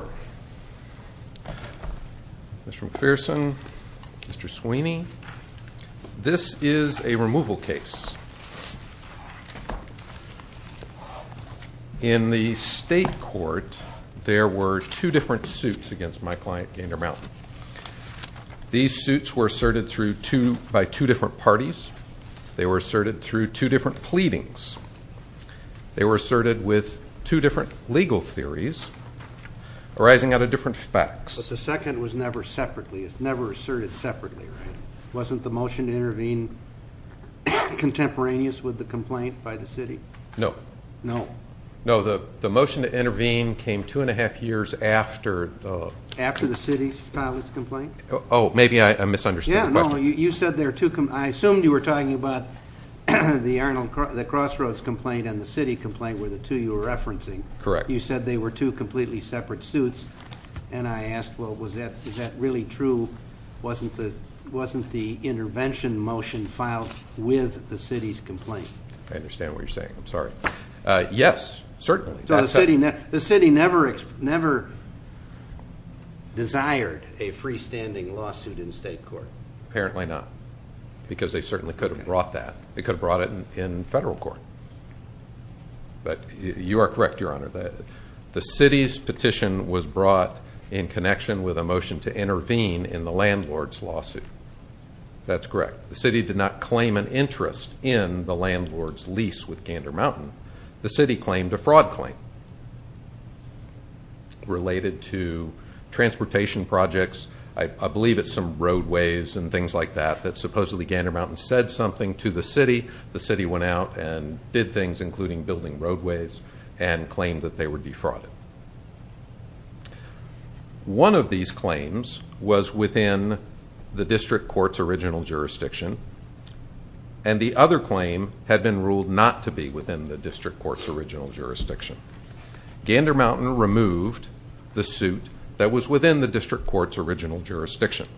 Mr. McPherson, Mr. Sweeney, this is a removal case. In the state court, there were two different suits against my client, Gander Mountain. These suits were asserted by two different parties. They were asserted through two different pleadings. They were asserted with two different legal theories arising out of different facts. But the second was never asserted separately, right? Wasn't the motion to intervene contemporaneous with the complaint by the city? No. No. No, the motion to intervene came two and a half years after the... After the city's pilot's complaint? Oh, maybe I misunderstood the question. You said there are two... I assumed you were talking about the Crossroads complaint and the city complaint were the two you were referencing. Correct. You said they were two completely separate suits. And I asked, well, is that really true? Wasn't the intervention motion filed with the city's complaint? I understand what you're saying. I'm sorry. Yes, certainly. So the city never desired a freestanding lawsuit in state court? Apparently not. Because they certainly could have brought that. They could have brought it in federal court. But you are correct, Your Honor. The city's petition was brought in connection with a motion to intervene in the landlord's lawsuit. That's correct. The city did not claim an interest in the landlord's lease with Gander Mountain. The city claimed a fraud claim related to transportation projects. I believe it's some roadways and things like that that supposedly Gander Mountain said something to the city. The city went out and did things including building roadways and claimed that they were defrauded. One of these claims was within the district court's original jurisdiction. And the other claim had been ruled not to be within the district court's original jurisdiction. Gander Mountain removed the suit that was within the district court's original jurisdiction.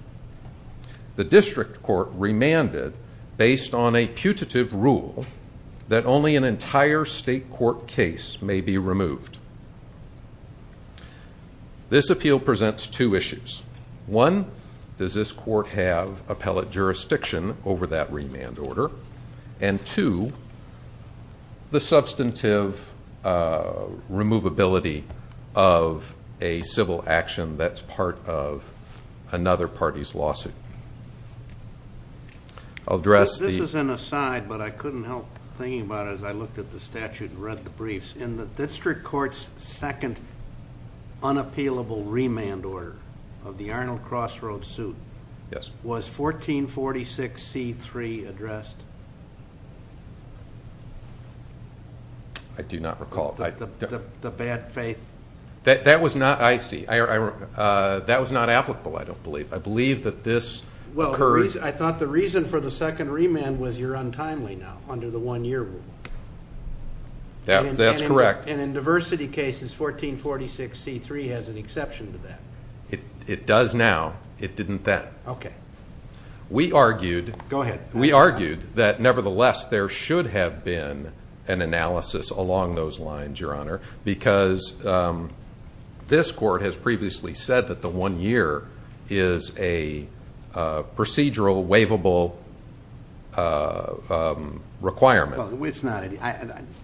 The district court remanded, based on a putative rule, that only an entire state court case may be removed. This appeal presents two issues. One, does this court have appellate jurisdiction over that remand order? And two, the substantive removability of a civil action that's part of another party's lawsuit. This is an aside, but I couldn't help thinking about it as I looked at the statute and read the briefs. In the district court's second unappealable remand order of the Arnold Crossroads suit, was 1446C3 addressed? I do not recall. The bad faith? That was not applicable, I don't believe. I believe that this occurred... I thought the reason for the second remand was you're untimely now, under the one-year rule. That's correct. And in diversity cases, 1446C3 has an exception to that. It does now. It didn't then. Okay. We argued... Go ahead. We argued that, nevertheless, there should have been an analysis along those lines, Your Honor, because this court has previously said that the one-year is a procedural, waivable requirement. It's not...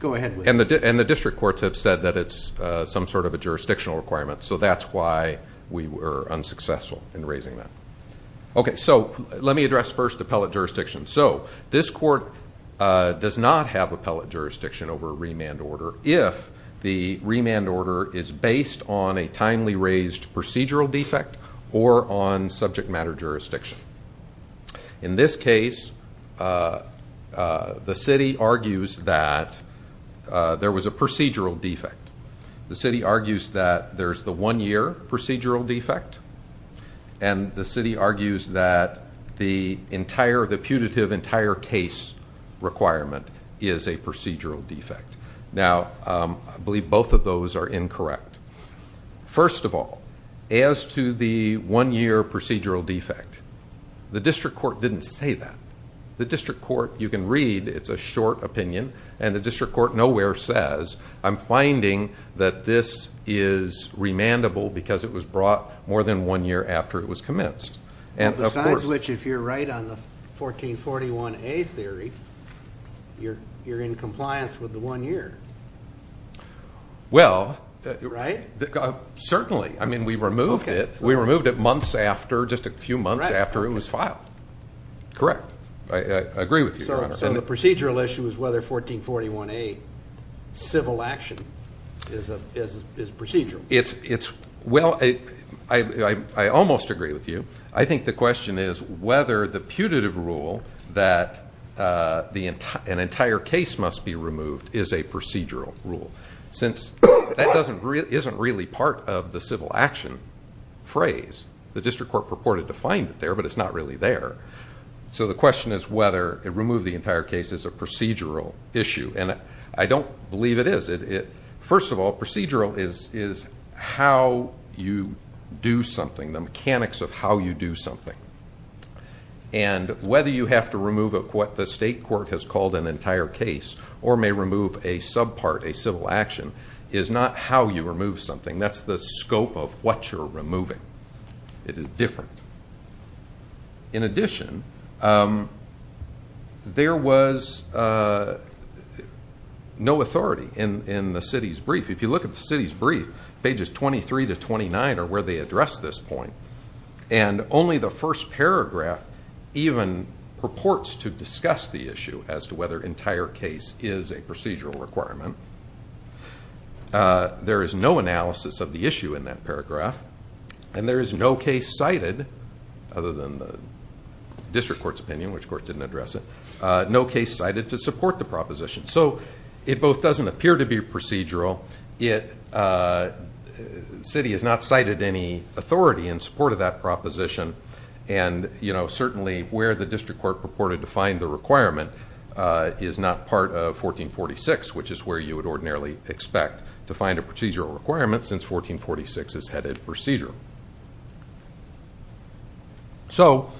Go ahead. And the district courts have said that it's some sort of a jurisdictional requirement, so that's why we were unsuccessful in raising that. Okay. So, let me address first appellate jurisdiction. So, this court does not have appellate jurisdiction over a remand order if the remand order is based on a timely raised procedural defect or on subject matter jurisdiction. In this case, the city argues that there was a procedural defect. The city argues that there's the one-year procedural defect, and the city argues that the entire... the putative entire case requirement is a procedural defect. Now, I believe both of those are incorrect. First of all, as to the one-year procedural defect, the district court didn't say that. The district court, you can read, it's a short opinion, and the district court nowhere says, I'm finding that this is remandable because it was brought more than one year after it was commenced. Besides which, if you're right on the 1441A theory, you're in compliance with the one-year. Well... Right? Certainly. I mean, we removed it. We removed it months after, just a few months after it was filed. Correct. I agree with you, Your Honor. So, the procedural issue is whether 1441A civil action is procedural. It's... Well, I almost agree with you. I think the question is whether the putative rule that an entire case must be removed is a procedural rule. Since that isn't really part of the civil action phrase, the district court purported to find it there, but it's not really there. So, the question is whether to remove the entire case is a procedural issue. And I don't believe it is. First of all, procedural is how you do something, the mechanics of how you do something. And whether you have to remove what the state court has called an entire case or may remove a subpart, a civil action, is not how you remove something. That's the scope of what you're removing. It is different. In addition, there was no authority in the city's brief. If you look at the city's brief, pages 23 to 29 are where they address this point. And only the first paragraph even purports to discuss the issue as to whether entire case is a procedural requirement. There is no analysis of the issue in that paragraph. And there is no case cited, other than the district court's opinion, which of course didn't address it, no case cited to support the proposition. So, it both doesn't appear to be procedural, yet the city has not cited any authority in support of that proposition. And certainly where the district court purported to find the requirement is not part of 1446, which is where you would ordinarily expect to find a procedural requirement since 1446 is headed procedural. So,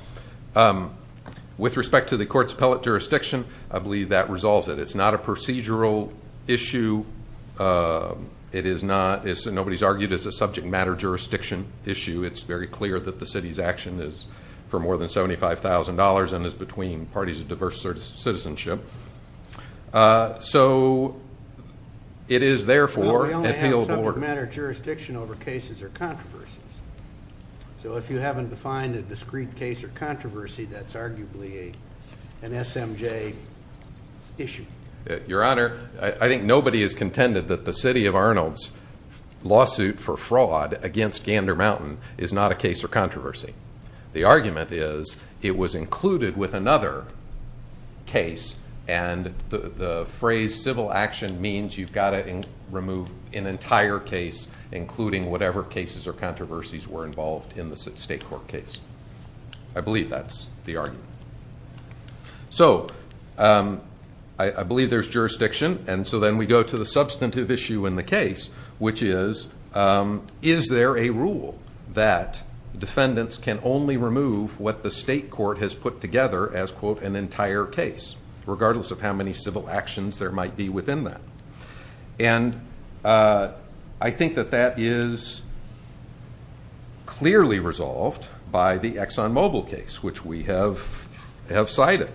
with respect to the court's appellate jurisdiction, I believe that resolves it. It's not a procedural issue. Nobody's argued it's a subject matter jurisdiction issue. It's very clear that the city's action is for more than $75,000 and is between parties of diverse citizenship. So, it is therefore appealable. Well, we only have subject matter jurisdiction over cases or controversies. So, if you haven't defined a discrete case or controversy, that's arguably an SMJ issue. Your Honor, I think nobody has contended that the city of Arnold's lawsuit for fraud against Gander Mountain is not a case or controversy. The argument is it was included with another case and the phrase civil action means you've got to remove an entire case, including whatever cases or controversies were involved in the state court case. I believe that's the argument. So, I believe there's jurisdiction, and so then we go to the substantive issue in the case, which is, is there a rule that defendants can only remove what the state court has put together as, quote, an entire case, regardless of how many civil actions there might be within that? And I think that that is clearly resolved by the ExxonMobil case, which we have cited.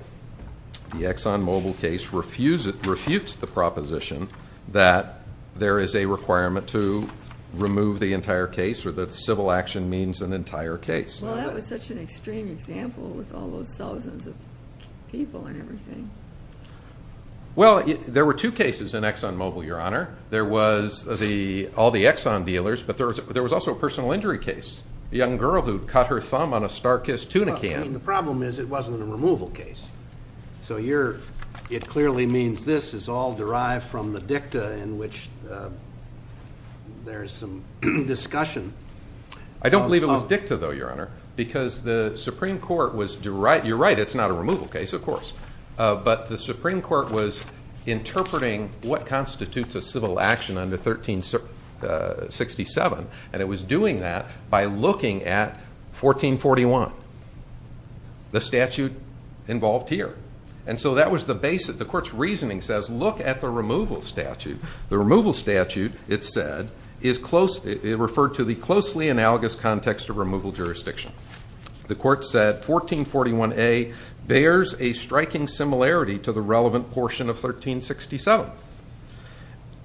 The ExxonMobil case refutes the proposition that there is a requirement to remove the entire case or that civil action means an entire case. Well, that was such an extreme example with all those thousands of people and everything. Well, there were two cases in ExxonMobil, Your Honor. There was all the Exxon dealers, but there was also a personal injury case. A young girl who cut her thumb on a StarKiss tuna can. The problem is it wasn't a removal case. So, you're, it clearly means this is all derived from the dicta in which there's some discussion. I don't believe it was dicta, though, Your Honor, because the Supreme Court was, you're right, it's not a removal case, of course, but the Supreme Court was interpreting what constitutes a civil action under 1367, and it was doing that by looking at 1441, the statute involved here. And so, that was the basis. The Court's reasoning says, look at the removal statute. The removal statute, it said, is close, it referred to the closely analogous context of removal jurisdiction. The Court said, 1441A bears a striking similarity to the relevant portion of 1367.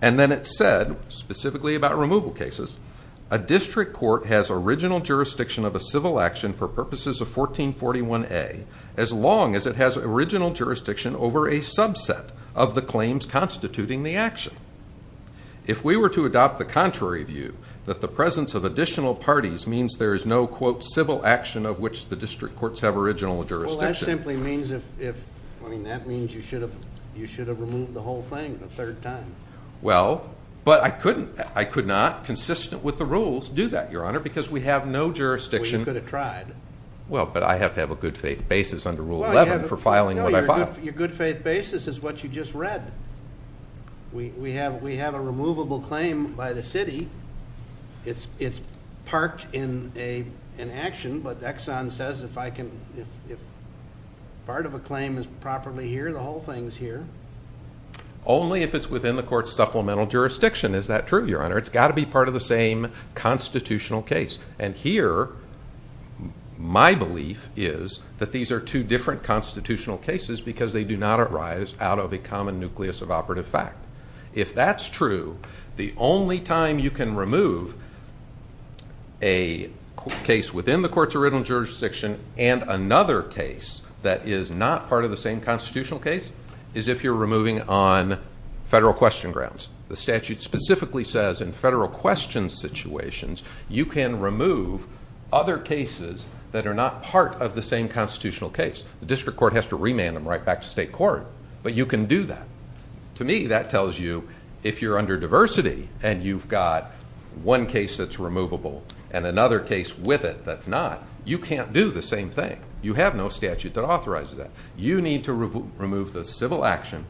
And then it said, specifically about removal cases, a district court has original jurisdiction of a civil action for purposes of 1441A as long as it has original jurisdiction over a subset of the claims constituting the action. If we were to adopt the contrary view, that the presence of additional parties means there is no, quote, civil action of which the district courts have original jurisdiction. Well, that simply means you should have removed the whole thing a third time. Well, but I could not, consistent with the rules, do that, Your Honor, because we have no jurisdiction. Well, you could have tried. Well, but I have to have a good faith basis under Rule 11 for filing what I filed. Your good faith basis is what you just read. We have a removable claim by the city. It's parked in action, but Exxon says if part of a claim is properly here, the whole thing is here. Only if it's within the court's supplemental jurisdiction. Is that true, Your Honor? It's got to be part of the same constitutional case. And here, my belief is that these are two different constitutional cases because they do not arise out of a common nucleus of operative fact. If that's true, the only time you can remove a case within the court's original jurisdiction and another case that is not part of the same constitutional case is if you're removing on federal question grounds. The statute specifically says in federal question situations, you can remove other cases that are not part of the same constitutional case. The district court has to remand them right back to state court, but you can do that. To me, that tells you if you're under diversity and you've got one case that's removable and another case with it that's not, you can't do the same thing. You have no statute that authorizes that. You need to remove the civil action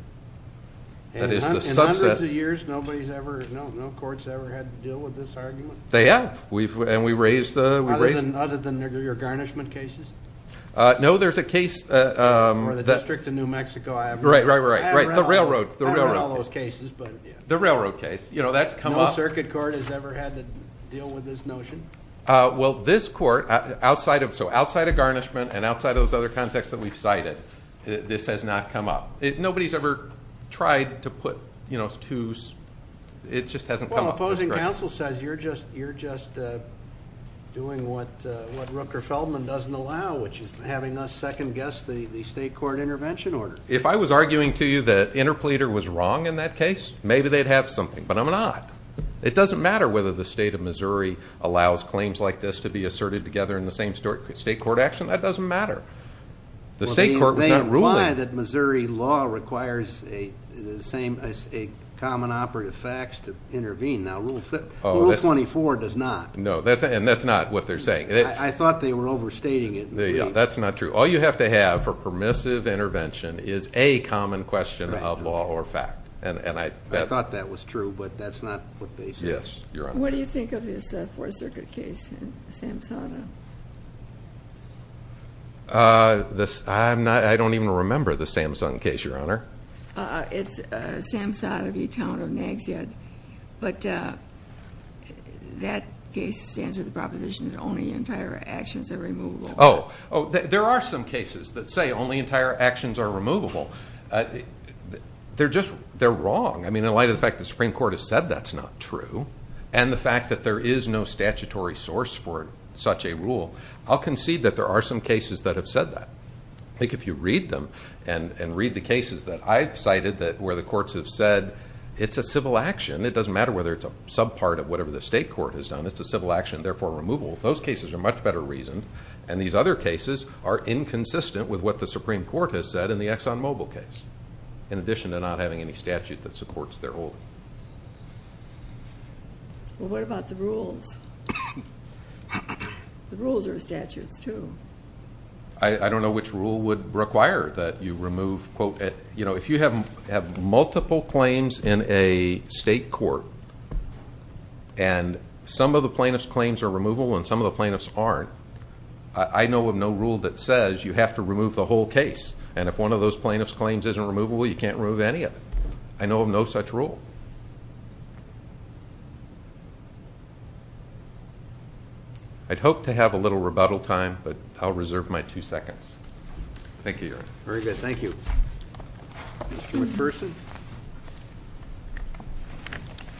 that is the subset... In hundreds of years, no courts ever had to deal with this argument? They have. And we raised the... Other than your garnishment cases? No, there's a case... For the District of New Mexico Avenue. Right, the railroad. I don't know all those cases, but yeah. The railroad case. No circuit court has ever had to deal with this notion? Well, this court, outside of garnishment and outside of those other contexts that we've cited, this has not come up. Nobody's ever tried to put two... It just hasn't come up. Well, the opposing counsel says you're just doing what Rooker-Feldman doesn't allow, which is having us second-guess the state court intervention order. If I was arguing to you that Interpleader was wrong in that case, maybe they'd have something. But I'm not. It doesn't matter whether the state of Missouri allows claims like this to be asserted together in the same state court action. That doesn't matter. The state court was not ruling. They imply that Missouri law requires a common operative fax to intervene. Now, Rule 24 does not. No, and that's not what they're saying. I thought they were overstating it. That's not true. All you have to have for permissive intervention is a common question of law or fact. I thought that was true, but that's not what they said. Yes, Your Honor. What do you think of this Fourth Circuit case in Samsada? I don't even remember the Samsun case, Your Honor. It's Samsada v. Town of Nags Head. But that case stands with the proposition that only entire actions are removable. Oh, there are some cases that say only entire actions are removable. They're wrong. In light of the fact that the Supreme Court has said that's not true and the fact that there is no statutory source for such a rule, I'll concede that there are some cases that have said that. If you read them and read the cases that I've cited where the courts have said it's a civil action. It doesn't matter whether it's a subpart of whatever the state court has done. It's a civil action, therefore removable. Those cases are much better reasoned, and these other cases are inconsistent with what the Supreme Court has said in the Exxon Mobil case, in addition to not having any statute that supports their ruling. Well, what about the rules? The rules are statutes, too. I don't know which rule would require that you remove. If you have multiple claims in a state court and some of the plaintiff's claims are removable and some of the plaintiffs aren't, I know of no rule that says you have to remove the whole case, and if one of those plaintiff's claims isn't removable, you can't remove any of it. I know of no such rule. I'd hope to have a little rebuttal time, but I'll reserve my two seconds. Thank you, Your Honor. Very good. Thank you. Mr.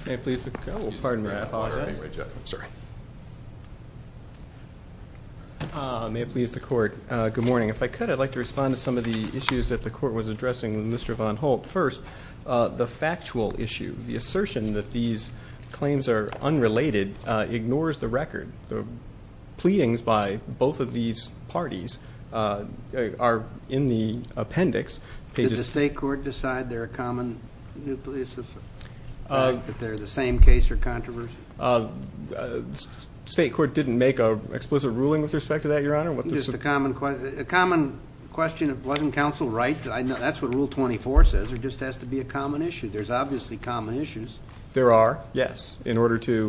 McPherson? Oh, pardon me. I apologize. May it please the Court, good morning. If I could, I'd like to respond to some of the issues that the Court was addressing with Mr. Von Holt. First, the factual issue, the assertion that these claims are unrelated ignores the record. The pleadings by both of these parties are in the appendix. Did the state court decide they're a common nucleus? That they're the same case or controversy? State court didn't make an explicit ruling with respect to that, Your Honor. A common question, wasn't counsel right? That's what Rule 24 says. There just has to be a common issue. There's obviously common issues. There are, yes. In order to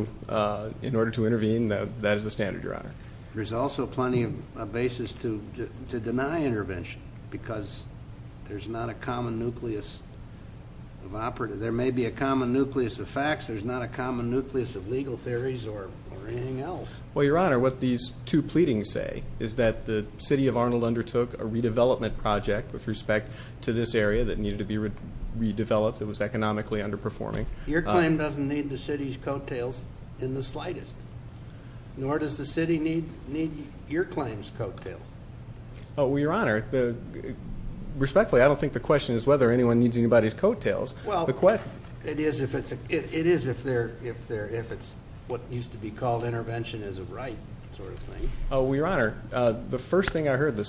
intervene, that is the standard, Your Honor. There's also plenty of basis to deny intervention because there's not a common nucleus of operative. There may be a common nucleus of facts. There's not a common nucleus of legal theories or anything else. Well, Your Honor, what these two pleadings say is that the city of Arnold undertook a redevelopment project with respect to this area that needed to be redeveloped that was economically underperforming. Your claim doesn't need the city's coattails in the slightest. Nor does the city need your claim's coattails. Well, Your Honor, respectfully, I don't think the question is whether anyone needs anybody's coattails. It is if it's what used to be called intervention as a right sort of thing. Well, Your Honor, the first thing I heard from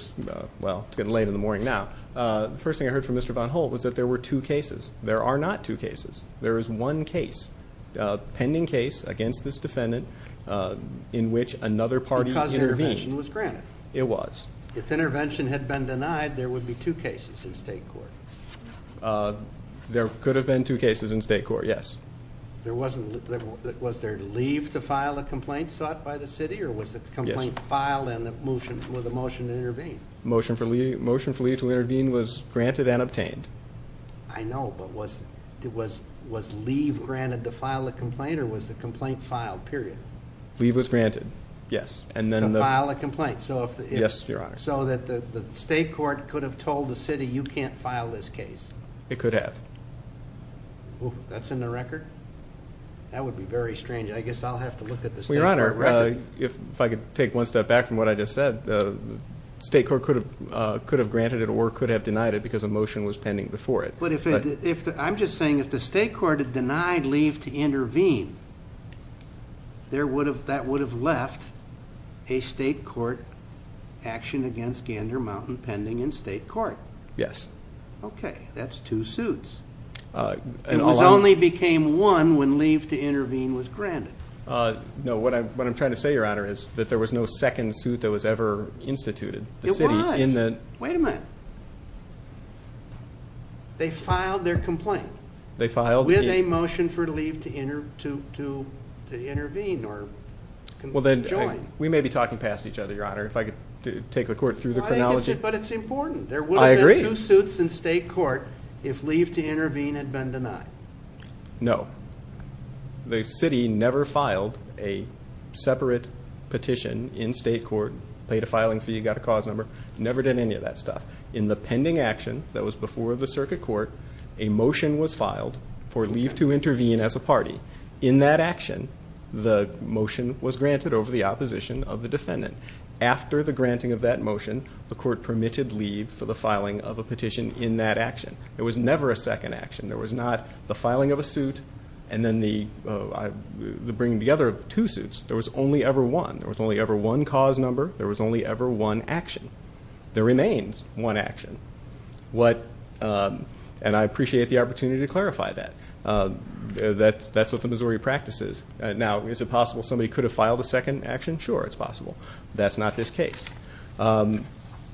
Mr. Von Holt was that there were two cases. There are not two cases. There is one case. A pending case against this defendant in which another party intervened. If intervention had been denied, there would be two cases in state court. There could have been two cases in state court, yes. Was there leave to file a complaint sought by the city or was the complaint filed with a motion to intervene? Motion for leave to intervene was granted and obtained. I know, but was leave granted to file a complaint or was the complaint filed, period? Leave was granted, yes. To file a complaint so that the state court could have told the city, you can't file this case? It could have. That's in the record? That would be very strange. I guess I'll have to look at the state court record. If I could take one step back from what I just said, the state court could have granted it or could have denied it because a motion was pending before it. I'm just saying if the state court had denied leave to intervene, that would have left a state court action against Gander Mountain pending in state court. Yes. That's two suits. It only became one when leave to intervene was granted. No, what I'm trying to say, Your Honor, is that there was no second suit that was ever instituted. It was. Wait a minute. They filed their complaint with a motion for leave to intervene or join. We may be talking past each other, Your Honor. But it's important. There would have been two suits in state court if leave to intervene had been denied. No. The city never filed a separate petition in state court, paid a filing fee, got a cause number. Never did any of that stuff. In the pending action that was before the circuit court, a motion was filed for leave to intervene as a party. In that action, the motion was granted over the opposition of the defendant. After the granting of that motion, the court permitted leave for the filing of a petition in that action. There was never a second action. There was not the filing of a suit and then the bringing together of two suits. There was only ever one. There was only ever one cause number. There was only ever one action. There remains one action. And I appreciate the opportunity to clarify that. That's what the Missouri practice is. Now, is it possible somebody could have filed a second action? Sure, it's possible. That's not this case.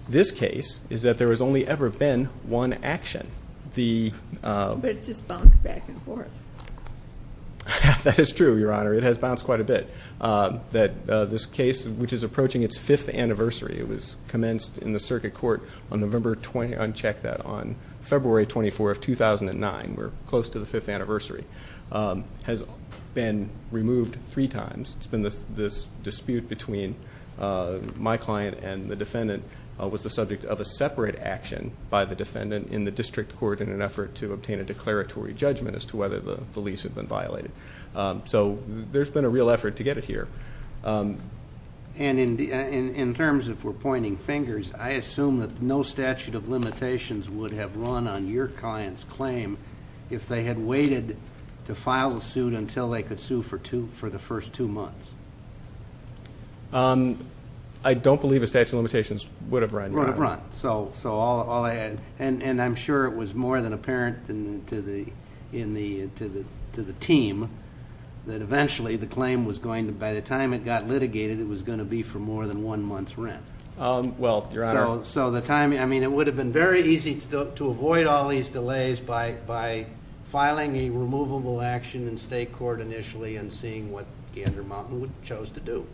This case is that there has only ever been one action. But it just bounced back and forth. That is true, Your Honor. It has bounced quite a bit. This case, which is approaching its fifth anniversary, it was commenced in the circuit court on November 20th. I unchecked that on February 24th, 2009. We're close to the fifth anniversary. It has been removed three times. It's been this dispute between my client and the defendant. It was the subject of a separate action by the defendant in the district court in an effort to obtain a declaratory judgment as to whether the lease had been violated. So there's been a real effort to get it here. And in terms, if we're pointing fingers, I assume that no statute of limitations would have run on your client's claim if they had waited to file the suit until they could sue for the first two months. I don't believe a statute of limitations would have run. Would have run. And I'm sure it was more than apparent to the team that eventually the claim was going to, by the time it got litigated, it was going to be for more than one month's rent. Well, Your Honor. So the timing, I mean, it would have been very easy to avoid all these delays by filing a removable action in state court initially and seeing what Gander Mountain chose to do.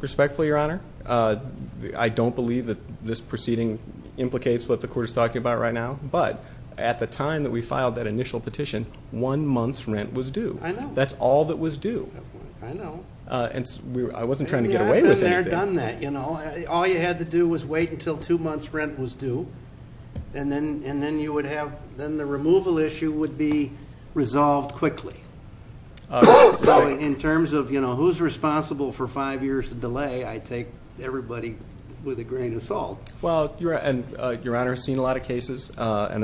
Respectfully, Your Honor, I don't believe that this proceeding implicates what the court is talking about right now. But at the time that we filed that initial petition, one month's rent was due. That's all that was due. I know. I wasn't trying to get away with anything. All you had to do was wait until two months' rent was due and then you would have... then the removal issue would be resolved quickly. So in terms of, you know, who's responsible for five years of delay, I take everybody with a grain of salt. Well, Your Honor, I've seen a lot of cases and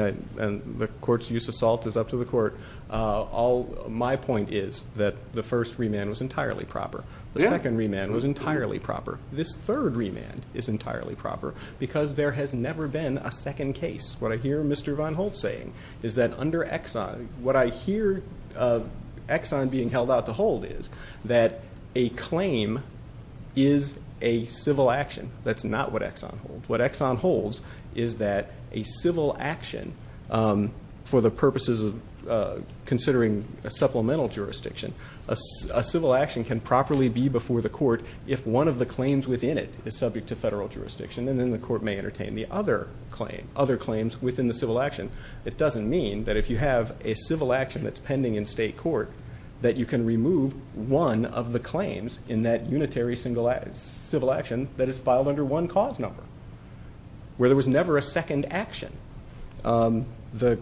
the court's use of salt is up to the court. My point is that the first remand was entirely proper. The second remand was entirely proper. This third remand is entirely proper because there has never been a second case. What I hear Mr. Von Holtz saying is that under Exxon, what I hear Exxon being held out to hold is that a claim is a civil action. That's not what Exxon holds. What Exxon holds is that a civil action for the purposes of considering a supplemental jurisdiction, a civil action can properly be before the court if one of the claims within it is subject to federal jurisdiction and then the court may entertain the other claims within the civil action. It doesn't mean that if you have a civil action that's pending in state court that you can remove one of the claims in that unitary civil action that is filed under one cause number where there was never a second action. Judge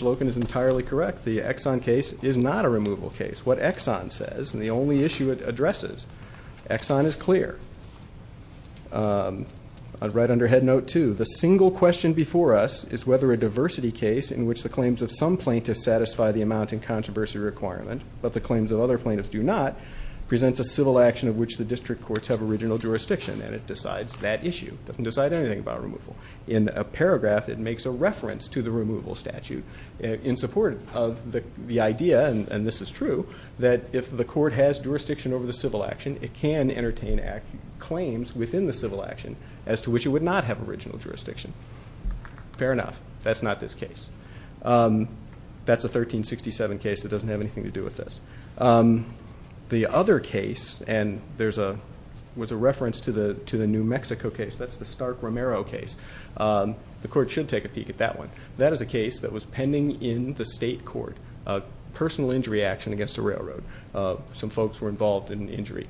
Loken is entirely correct. The Exxon case is not a removal case. What Exxon says, and the only issue it addresses, Exxon is clear. I'd write under head note too, the single question before us is whether a diversity case in which the claims of some plaintiffs satisfy the amount and controversy requirement but the claims of other plaintiffs do not presents a civil action of which the district courts have original jurisdiction and it decides that issue. It doesn't decide anything about removal. In a paragraph it makes a reference to the removal statute in support of the idea, and this is true, that if the court has jurisdiction over the civil action it can entertain claims within the civil action as to which it would not have original jurisdiction. Fair enough. That's not this case. That's a 1367 case that doesn't have anything to do with this. The other case, and there's a reference to the New Mexico case, that's the Stark-Romero case. The court should take a peek at that one. That is a case that was pending in the state court, personal injury action against a railroad. Some folks were involved in the injury.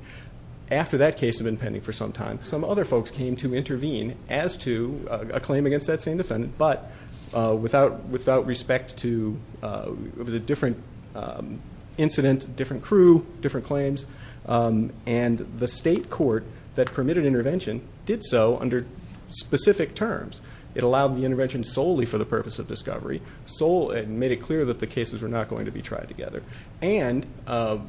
After that case had been pending for some time, some other folks came to intervene as to a claim against that same defendant but without respect to the different incident, different crew, different claims, and the state court that permitted intervention did so under specific terms. It allowed the intervention solely for the purpose of discovery and made it clear that the cases were not going to be tried together. And the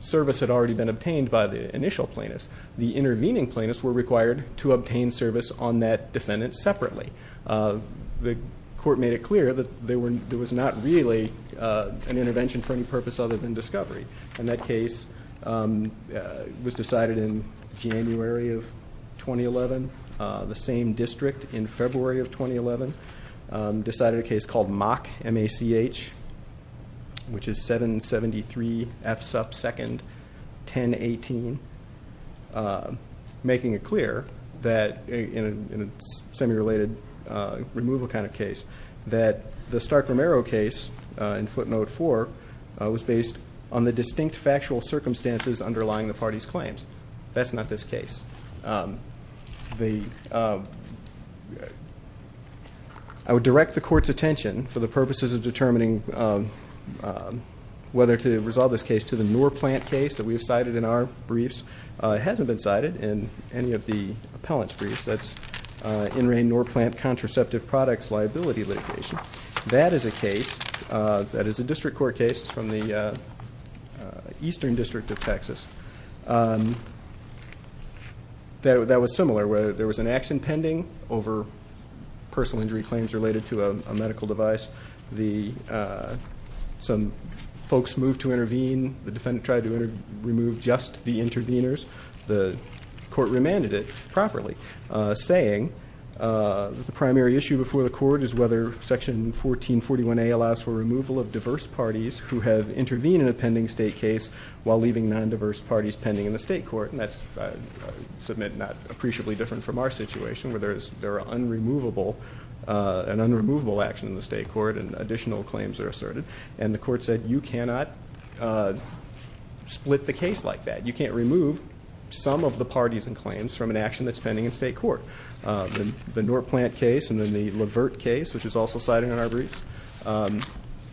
service had already been obtained by the initial plaintiffs. The intervening plaintiffs were required to obtain service on that defendant separately. The court made it clear that there was not really an intervention for any purpose other than discovery. And that case was decided in January of 2011. The same district in February of 2011 decided a case called MACH, M-A-C-H, which is 773 F sub 2nd 1018, making it clear that in a semi-related case or removal kind of case, that the Stark-Romero case in footnote 4 was based on the distinct factual circumstances underlying the party's claims. That's not this case. I would direct the court's attention for the purposes of determining whether to resolve this case to the Norplant case that we have cited in our briefs. It hasn't been cited in any of the appellant's briefs. That's in rain Norplant contraceptive products liability litigation. That is a case, that is a district court case from the eastern district of Texas that was similar where there was an action pending over personal injury claims related to a medical device. Some folks moved to intervene. The defendant tried to remove just the interveners. The court remanded it properly, saying the primary issue before the court is whether section 1441A allows for removal of diverse parties who have intervened in a pending state case while leaving non-diverse parties pending in the state court. That's, I submit, not appreciably different from our situation where there is an unremovable action in the state court and additional claims are asserted. And the court said you cannot split the case like that. You can't remove some of the parties and claims from an action that's pending in state court. The Norplant case and then the Levert case, which is also cited in our briefs,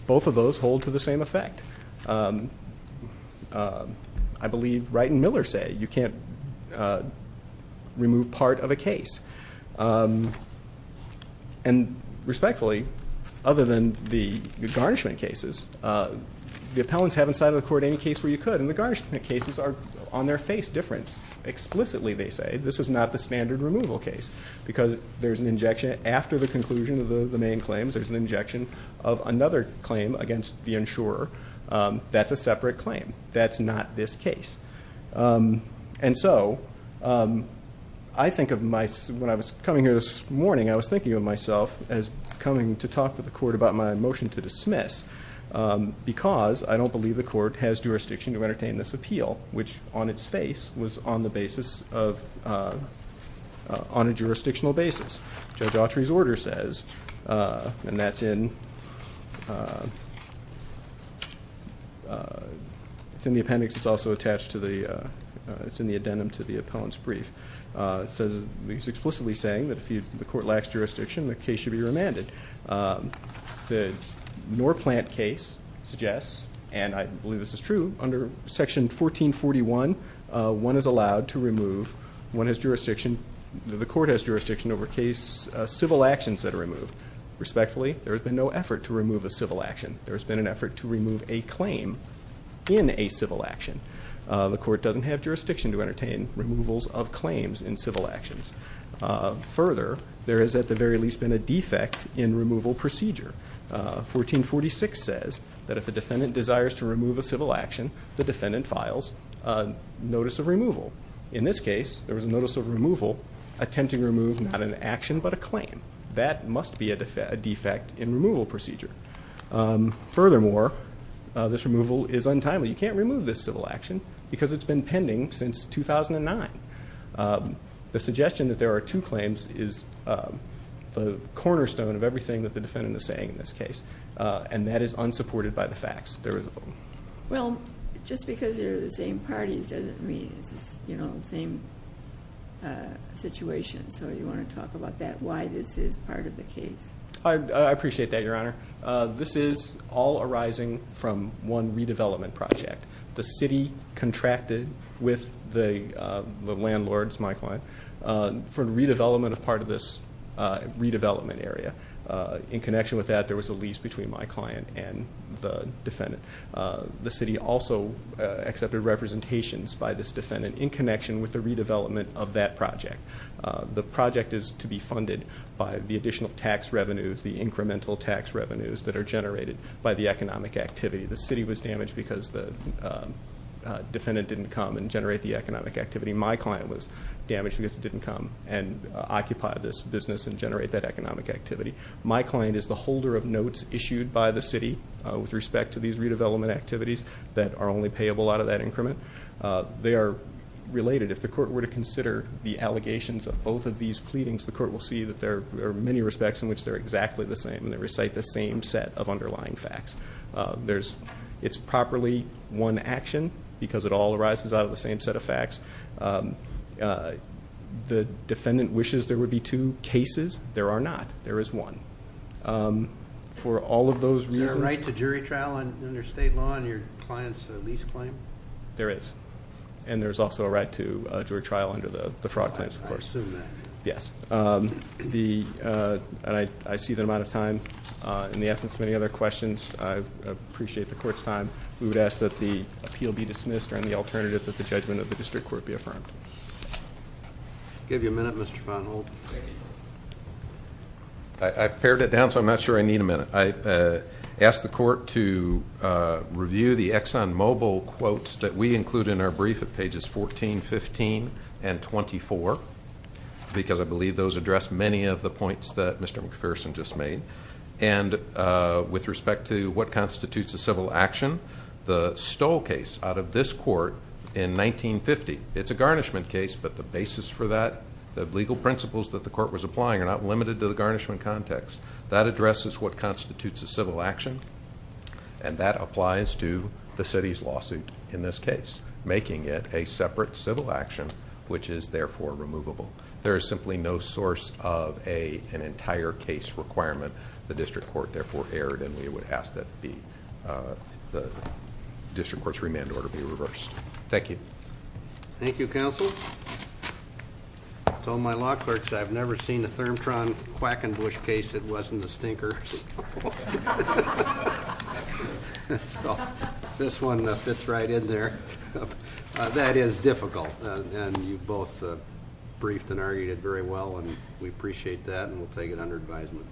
both of those hold to the same effect. I believe Wright and Miller say you can't remove part of a case. And respectfully, other than the garnishment cases, the appellants haven't sided with the court in any case where you could, and the garnishment cases are on their face different. Explicitly, they say, this is not the standard removal case because there's an injection after the conclusion of the main claims, there's an injection of another claim against the insurer. That's a separate claim. That's not this case. And so I think of my... When I was coming here this morning, I was thinking of myself as coming to talk to the court about my motion to dismiss because I don't believe the court has jurisdiction to entertain this appeal, which on its face was on a jurisdictional basis. Judge Autry's order says, and that's in... It's in the appendix. It's also attached to the... It's explicitly saying that if the court lacks jurisdiction, the case should be remanded. The Norplant case suggests, and I believe this is true, under Section 1441, one is allowed to remove... The court has jurisdiction over civil actions that are removed. Respectfully, there has been no effort to remove a civil action. There has been an effort to remove a claim in a civil action. The court doesn't have jurisdiction to entertain removals of claims in civil actions. Further, there has at the very least been a defect in removal procedure. 1446 says that if a defendant desires to remove a civil action, the defendant files a notice of removal. In this case, there was a notice of removal attempting to remove not an action but a claim. That must be a defect in removal procedure. Furthermore, this removal is untimely. You can't remove this civil action because it's been pending since 2009. The suggestion that there are two claims is the cornerstone of everything that the defendant is saying in this case, and that is unsupported by the facts. Well, just because they're the same parties doesn't mean it's the same situation, so you want to talk about that, why this is part of the case. I appreciate that, Your Honor. This is all arising from one redevelopment project. The city contracted with the landlord, my client, for redevelopment of part of this redevelopment area. In connection with that, there was a lease between my client and the defendant. The city also accepted representations by this defendant in connection with the redevelopment of that project. The project is to be funded by the additional tax revenues, the incremental tax revenues that are generated by the economic activity. The city was damaged because the defendant didn't come and generate the economic activity. My client was damaged because he didn't come and occupy this business and generate that economic activity. My client is the holder of notes issued by the city with respect to these redevelopment activities that are only payable out of that increment. They are related. If the court were to consider the allegations of both of these pleadings, the court will see that there are many respects in which they're exactly the same and they recite the same set of underlying facts. It's properly one action because it all arises out of the same set of facts. The defendant wishes there would be two cases. There are not. There is one. Is there a right to jury trial under state law on your client's lease claim? There is. And there's also a right to jury trial under the fraud claims, of course. I assume that. Yes. I see the amount of time. In the absence of any other questions, I appreciate the court's time. We would ask that the appeal be dismissed or, in the alternative, that the judgment of the district court be affirmed. I'll give you a minute, Mr. Von Holt. I've pared it down, so I'm not sure I need a minute. I ask the court to review the ExxonMobil quotes that we include in our brief at pages 14, 15, and 24 because I believe those address many of the points that Mr. McPherson just made. With respect to what constitutes a civil action, the Stoll case out of this court in 1950, it's a garnishment case, but the basis for that, the legal principles that the court was applying are not limited to the garnishment context. That addresses what constitutes a civil action and that applies to the city's lawsuit in this case, making it a separate civil action which is therefore removable. There is simply no source of an entire case requirement. The district court therefore erred and we would ask that the district court's remand order be reversed. Thank you. Thank you, counsel. I told my law clerks I've never seen a Thermtron Quackenbush case that wasn't the stinker. So, this one fits right in there. That is difficult and you both briefed and argued it very well and we appreciate that and we'll take it under advisement.